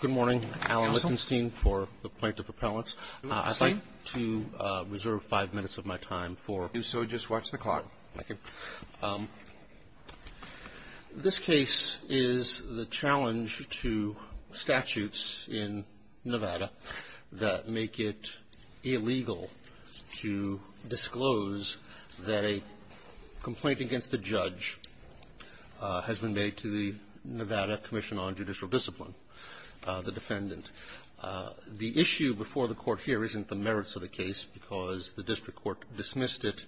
Good morning, Alan Wittgenstein for the Plaintiff Appellants. I'd like to reserve five minutes of my time for you, so just watch the clock. This case is the challenge to statutes in Nevada that make it illegal to disclose that a complaint against a judge has been made to the Nevada Commission on Judicial Discipline, the defendant. The issue before the Court here isn't the merits of the case, because the district court dismissed it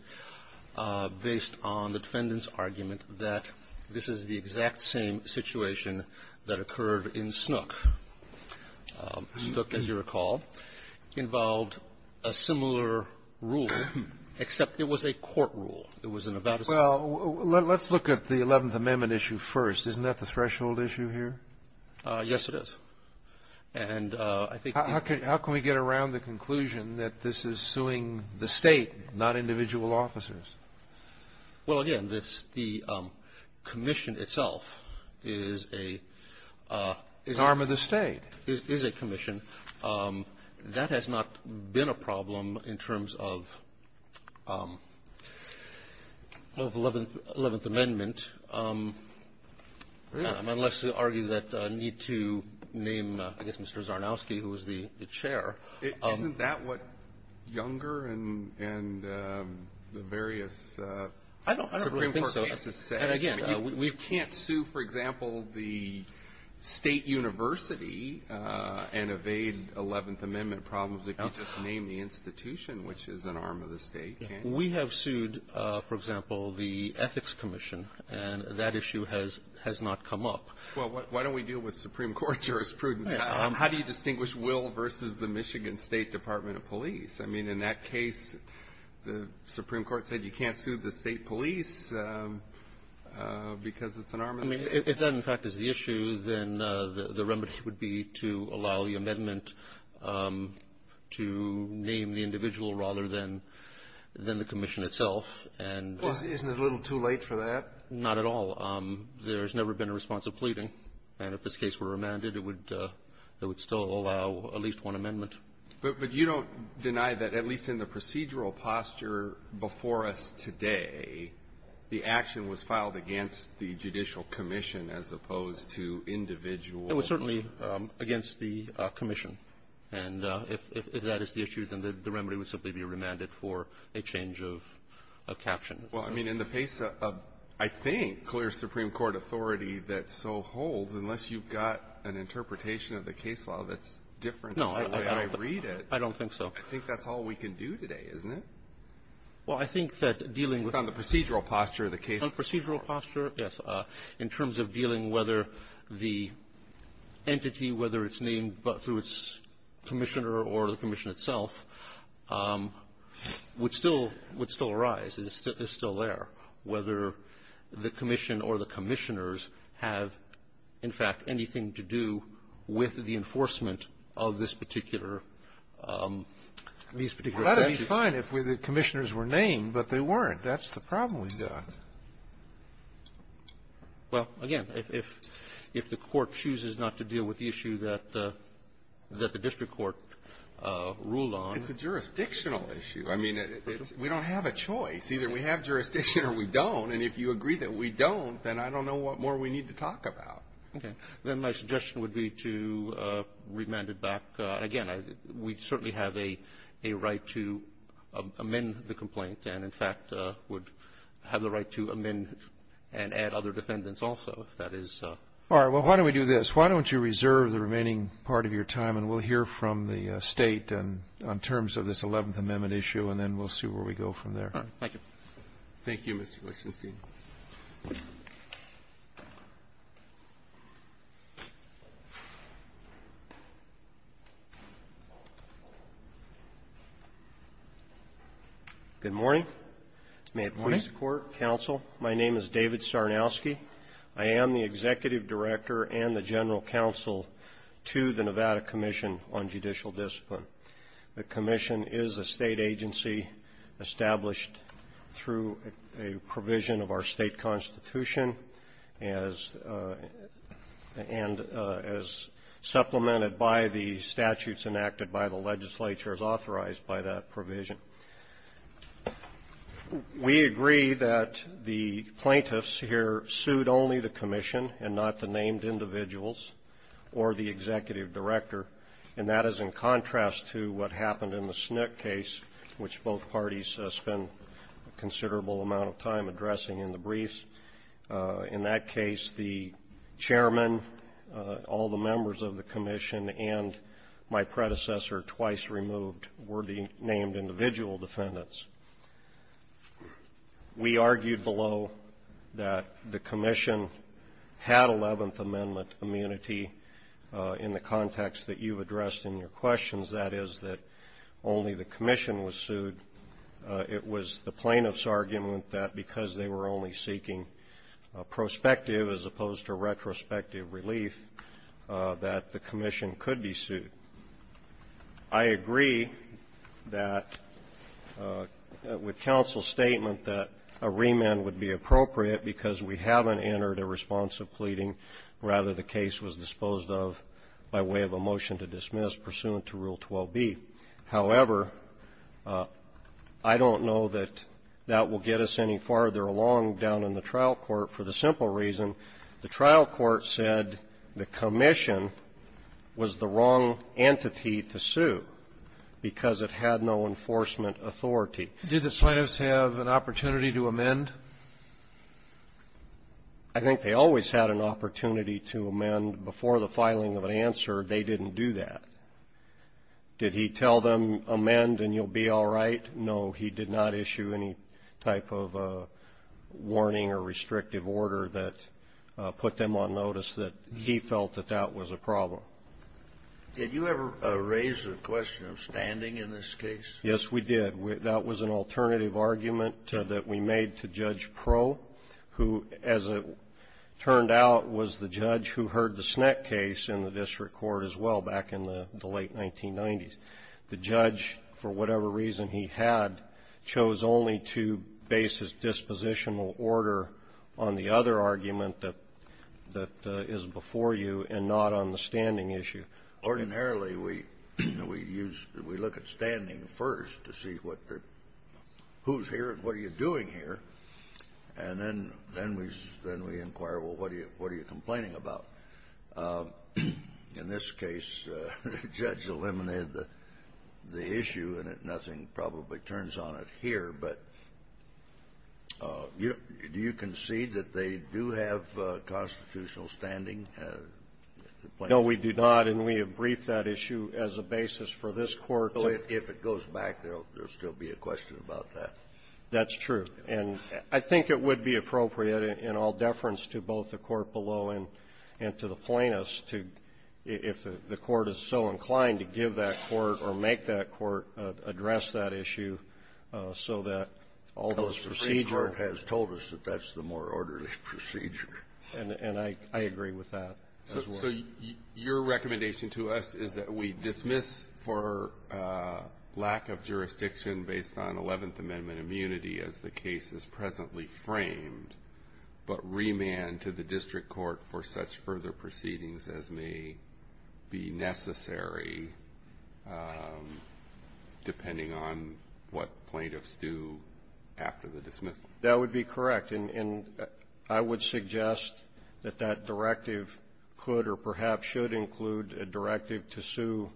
based on the defendant's argument that this is the exact same situation that occurred in Snook. Snook, as you recall, involved a similar rule, except it was a court rule. It was in Nevada State. Well, let's look at the Eleventh Amendment issue first. Isn't that the threshold issue here? Yes, it is. And I think the ---- How can we get around the conclusion that this is suing the State, not individual officers? Well, again, the Commission itself is a ---- An arm of the State. is a commission. That has not been a problem in terms of the Eleventh Amendment, unless you argue that you need to name, I guess, Mr. Zarnowski, who was the chair. Isn't that what Younger and the various Supreme Court cases say? I don't really think so. And, again, we can't sue, for example, the State university and evade Eleventh Amendment problems if you just name the institution, which is an arm of the State. We have sued, for example, the Ethics Commission, and that issue has not come up. Well, why don't we deal with Supreme Court jurisprudence? How do you distinguish will versus the Michigan State Department of Police? I mean, in that case, the Supreme Court said you can't sue the State police because it's an arm of the State. I mean, if that, in fact, is the issue, then the remedy would be to allow the amendment to name the individual rather than the Commission itself. And ---- Well, isn't it a little too late for that? Not at all. There's never been a response of pleading. And if this case were remanded, it would still allow at least one amendment. But you don't deny that, at least in the procedural posture before us today, the action was filed against the judicial commission as opposed to individual ---- It was certainly against the commission. And if that is the issue, then the remedy would simply be remanded for a change of caption. Well, I mean, in the face of, I think, clear Supreme Court authority that so holds, unless you've got an interpretation of the case law that's different than the way I read it ---- I don't think so. I think that's all we can do today, isn't it? Well, I think that dealing with ---- It's on the procedural posture of the case. On the procedural posture, yes. In terms of dealing whether the entity, whether it's named through its commissioner or the commission itself, would still arise. It's still there. Whether the commission or the commissioners have, in fact, anything to do with the enforcement of this particular ---- Well, that would be fine if the commissioners were named, but they weren't. That's the problem we've got. Well, again, if the Court chooses not to deal with the issue that the district court ruled on ---- It's a jurisdictional issue. I mean, we don't have a choice. Either we have jurisdiction or we don't. And if you agree that we don't, then I don't know what more we need to talk about. Okay. Then my suggestion would be to remand it back. Again, we certainly have a right to amend the complaint and, in fact, would have the right to amend and add other defendants also, if that is ---- All right. Well, why don't we do this? Why don't you reserve the remaining part of your time, and we'll hear from the State on terms of this Eleventh Amendment issue, and then we'll see where we go from there. All right. Thank you. Thank you, Mr. Glashenstein. Good morning. Good morning. May it please the Court, Counsel, my name is David Sarnowski. I am the Executive Director and the General Counsel to the Nevada Commission on Judicial Discipline. The Commission is a state agency established through a provision of our state constitution and as supplemented by the statutes enacted by the legislature as authorized by that provision. We agree that the plaintiffs here sued only the Commission and not the named individuals or the Executive Director, and that is in contrast to what happened in the Snook case, which both parties spent a considerable amount of time addressing in the briefs. In that case, the Chairman, all the members of the Commission, and my predecessor twice removed were the named individual defendants. We argued below that the Commission had Eleventh Amendment immunity in the context that you've addressed in your questions, that is, that only the Commission was sued. It was the plaintiff's argument that because they were only seeking prospective as opposed to retrospective relief, that the Commission could be sued. I agree that with counsel's statement that a remand would be appropriate because we haven't entered a response of pleading, rather the case was disposed of by way of a motion to dismiss pursuant to Rule 12b. However, I don't know that that will get us any farther along down in the trial court for the simple reason the trial court said the Commission was the wrong entity to sue because it had no enforcement authority. Did the plaintiffs have an opportunity to amend? I think they always had an opportunity to amend. Before the filing of an answer, they didn't do that. Did he tell them, amend and you'll be all right? No. He did not issue any type of warning or restrictive order that put them on notice that he felt that that was a problem. Did you ever raise the question of standing in this case? Yes, we did. That was an alternative argument that we made to Judge Proe, who, as it turned out, was the judge who heard the Snett case in the district court as well back in the late 1990s. The judge, for whatever reason he had, chose only to base his dispositional order on the other argument that is before you and not on the standing issue. Ordinarily, we look at standing first to see who's here and what are you doing here, and then we inquire, well, what are you complaining about? In this case, the judge eliminated the issue, and nothing probably turns on it here. But do you concede that they do have constitutional standing? No, we do not. And we have briefed that issue as a basis for this Court to go back to it. If it goes back, there will still be a question about that. That's true. And I think it would be appropriate, in all deference to both the court below and to the plaintiffs, if the Court is so inclined to give that court or make that court address that issue so that all those procedural And the Supreme Court has told us that that's the more orderly procedure. And I agree with that as well. So your recommendation to us is that we dismiss for lack of jurisdiction based on 11th Amendment immunity as the case is presently framed, but remand to the district court for such further proceedings as may be necessary. Depending on what plaintiffs do after the dismissal. That would be correct. And I would suggest that that directive could or perhaps should include a directive to sue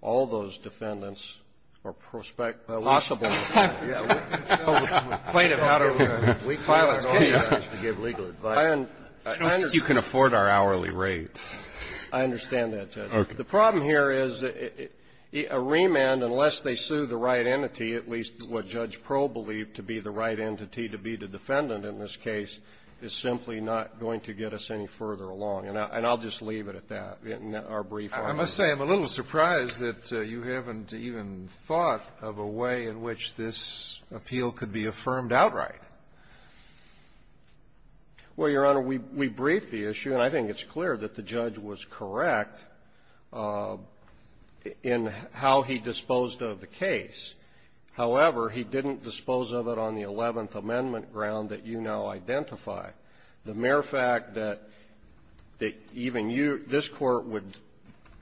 all those defendants or prospect possible. Plaintiff out of a week's notice to give legal advice. I don't think you can afford our hourly rates. I understand that, Judge. Okay. The problem here is a remand, unless they sue the right entity, at least what Judge Proe believed to be the right entity to be the defendant in this case, is simply not going to get us any further along. And I'll just leave it at that in our brief argument. I must say I'm a little surprised that you haven't even thought of a way in which this appeal could be affirmed outright. Well, Your Honor, we briefed the issue, and I think it's clear that the judge was correct in how he disposed of the case. However, he didn't dispose of it on the Eleventh Amendment ground that you now identify. The mere fact that even you, this Court, would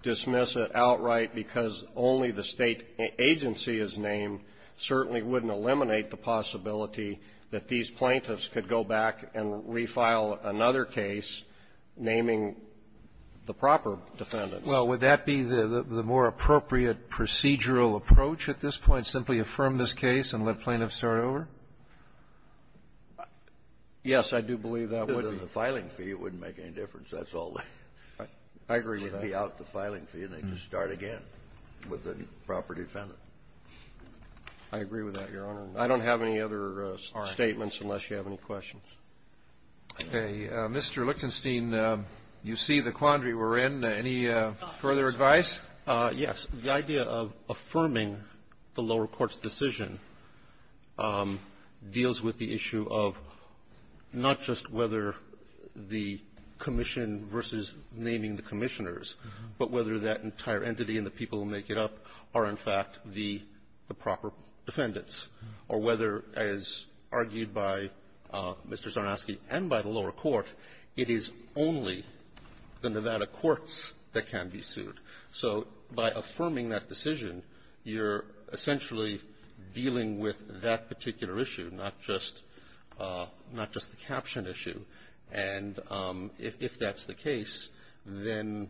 dismiss it outright because only the State agency is named certainly wouldn't eliminate the possibility that these plaintiffs could go back and refile another case naming the prospect possible as a proper defendant. Well, would that be the more appropriate procedural approach at this point, simply affirm this case and let plaintiffs start over? Yes, I do believe that would be. The filing fee wouldn't make any difference. That's all. I agree with that. It would be out the filing fee, and they could start again with a proper defendant. I agree with that, Your Honor. I don't have any other statements unless you have any questions. Okay. Mr. Lichtenstein, you see the quandary we're in. Any further advice? Yes. The idea of affirming the lower court's decision deals with the issue of not just whether the commission versus naming the commissioners, but whether that entire entity and the people who make it up are, in fact, the proper defendants, or whether, as argued by Mr. Zarnowski and by the lower court, it is only the Nevada courts that can be sued. So by affirming that decision, you're essentially dealing with that particular issue, not just the caption issue. And if that's the case, then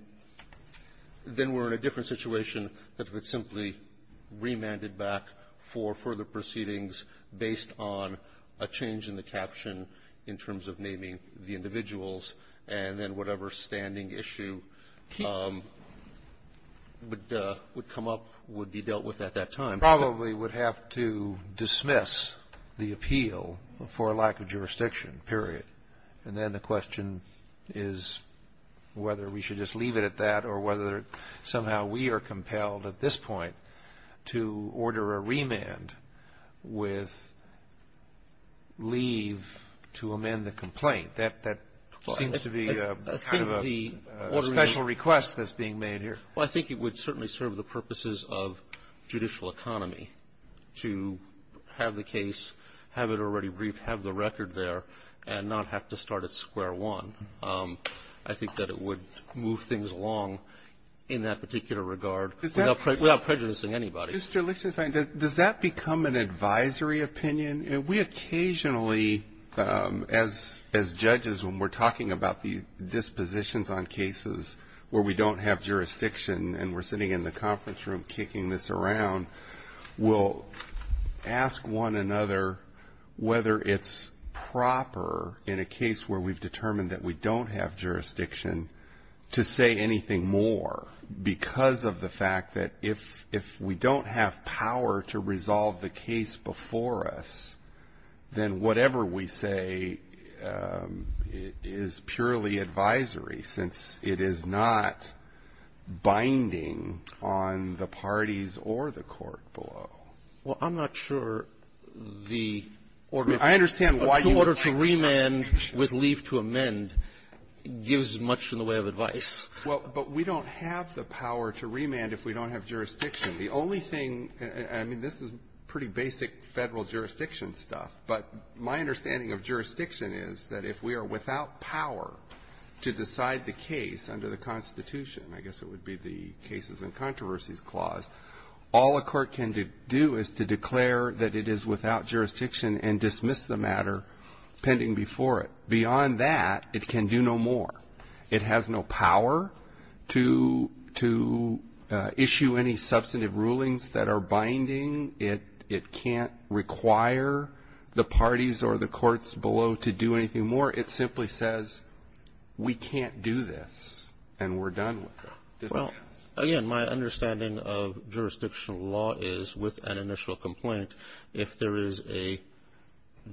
we're in a different situation than if it's simply remanded back for further proceedings based on a change in the caption in terms of naming the individuals, and then whatever standing issue would come up, would be dealt with at that time. Probably would have to dismiss the appeal for lack of jurisdiction, period. And then the question is whether we should just leave it at that or whether somehow we are compelled at this point to order a remand with leave to amend the complaint. That seems to be kind of a special request that's being made here. Well, I think it would certainly serve the purposes of judicial economy to have the case, have it already briefed, have the record there, and not have to start at square one. I think that it would move things along in that particular regard without prejudicing anybody. Mr. Lichtenstein, does that become an advisory opinion? We occasionally, as judges, when we're talking about the dispositions on cases where we don't have jurisdiction and we're sitting in the conference room kicking this around, we'll ask one another whether it's proper in a case where we've done have jurisdiction to say anything more because of the fact that if we don't have power to resolve the case before us, then whatever we say is purely advisory since it is not binding on the parties or the court below. Well, I'm not sure the order to remand with leave to amend. It gives much in the way of advice. Well, but we don't have the power to remand if we don't have jurisdiction. The only thing and I mean, this is pretty basic Federal jurisdiction stuff, but my understanding of jurisdiction is that if we are without power to decide the case under the Constitution, I guess it would be the Cases and Controversies Clause, all a court can do is to declare that it is without jurisdiction and dismiss the matter pending before it. Beyond that, it can do no more. It has no power to issue any substantive rulings that are binding. It can't require the parties or the courts below to do anything more. It simply says we can't do this and we're done with it. Well, again, my understanding of jurisdictional law is with an initial complaint, if there is a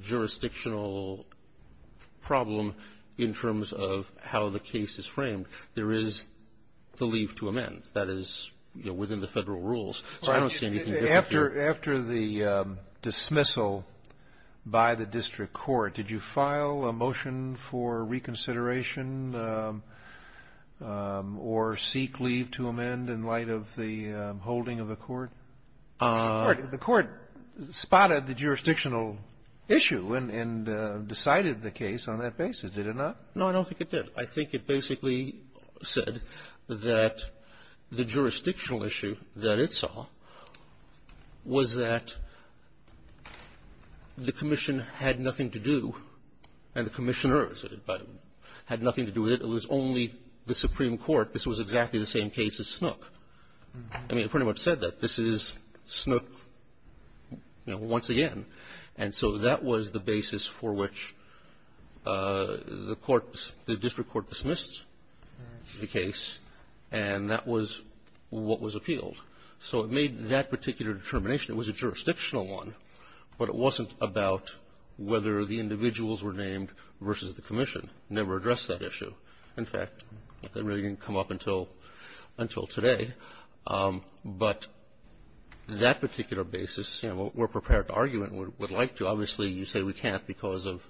jurisdictional problem in terms of how the case is framed, there is the leave to amend that is, you know, within the Federal rules. So I don't see anything different here. After the dismissal by the district court, did you file a motion for reconsideration or seek leave to amend in light of the holding of the court? The Court spotted the jurisdictional issue and decided the case on that basis, did it not? No, I don't think it did. I think it basically said that the jurisdictional issue that it saw was that the commission had nothing to do and the commissioners had nothing to do with it. It was only the Supreme Court. This was exactly the same case as Snook. I mean, it pretty much said that. This is Snook, you know, once again. And so that was the basis for which the court, the district court dismissed the case, and that was what was appealed. So it made that particular determination. It was a jurisdictional one, but it wasn't about whether the individuals were named versus the commission. It never addressed that issue. In fact, that really didn't come up until today. But that particular basis, you know, we're prepared to argue it and would like to. Obviously, you say we can't because of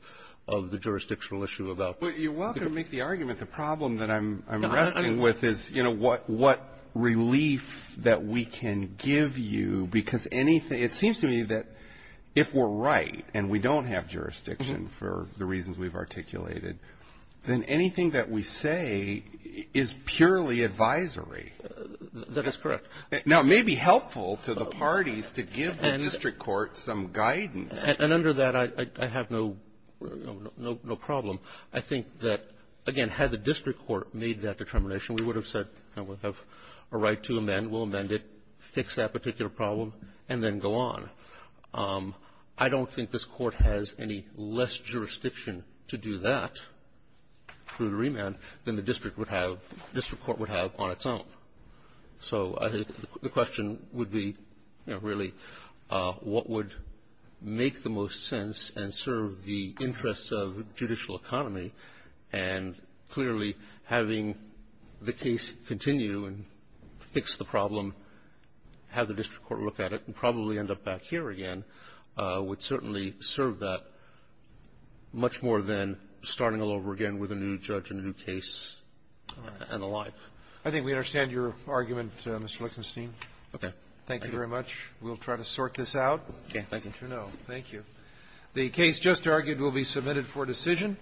the jurisdictional issue about the commission. Well, you're welcome to make the argument. The problem that I'm wrestling with is, you know, what relief that we can give you because anything — it seems to me that if we're right and we don't have jurisdiction for the reasons we've articulated, then anything that we say is purely advisory. That is correct. Now, it may be helpful to the parties to give the district court some guidance. And under that, I have no problem. I think that, again, had the district court made that determination, we would have said we'll have a right to amend, we'll amend it, fix that particular problem, and then go on. I don't think this court has any less jurisdiction to do that through the remand than the district would have — district court would have on its own. So the question would be, you know, really, what would make the most sense and serve the interests of judicial economy? And clearly, having the case continue and fix the problem, have the district court look back here again, would certainly serve that much more than starting all over again with a new judge, a new case, and the like. I think we understand your argument, Mr. Lichtenstein. Okay. Thank you very much. We'll try to sort this out. Okay. Thank you. You know. Thank you. The case just argued will be submitted for decision.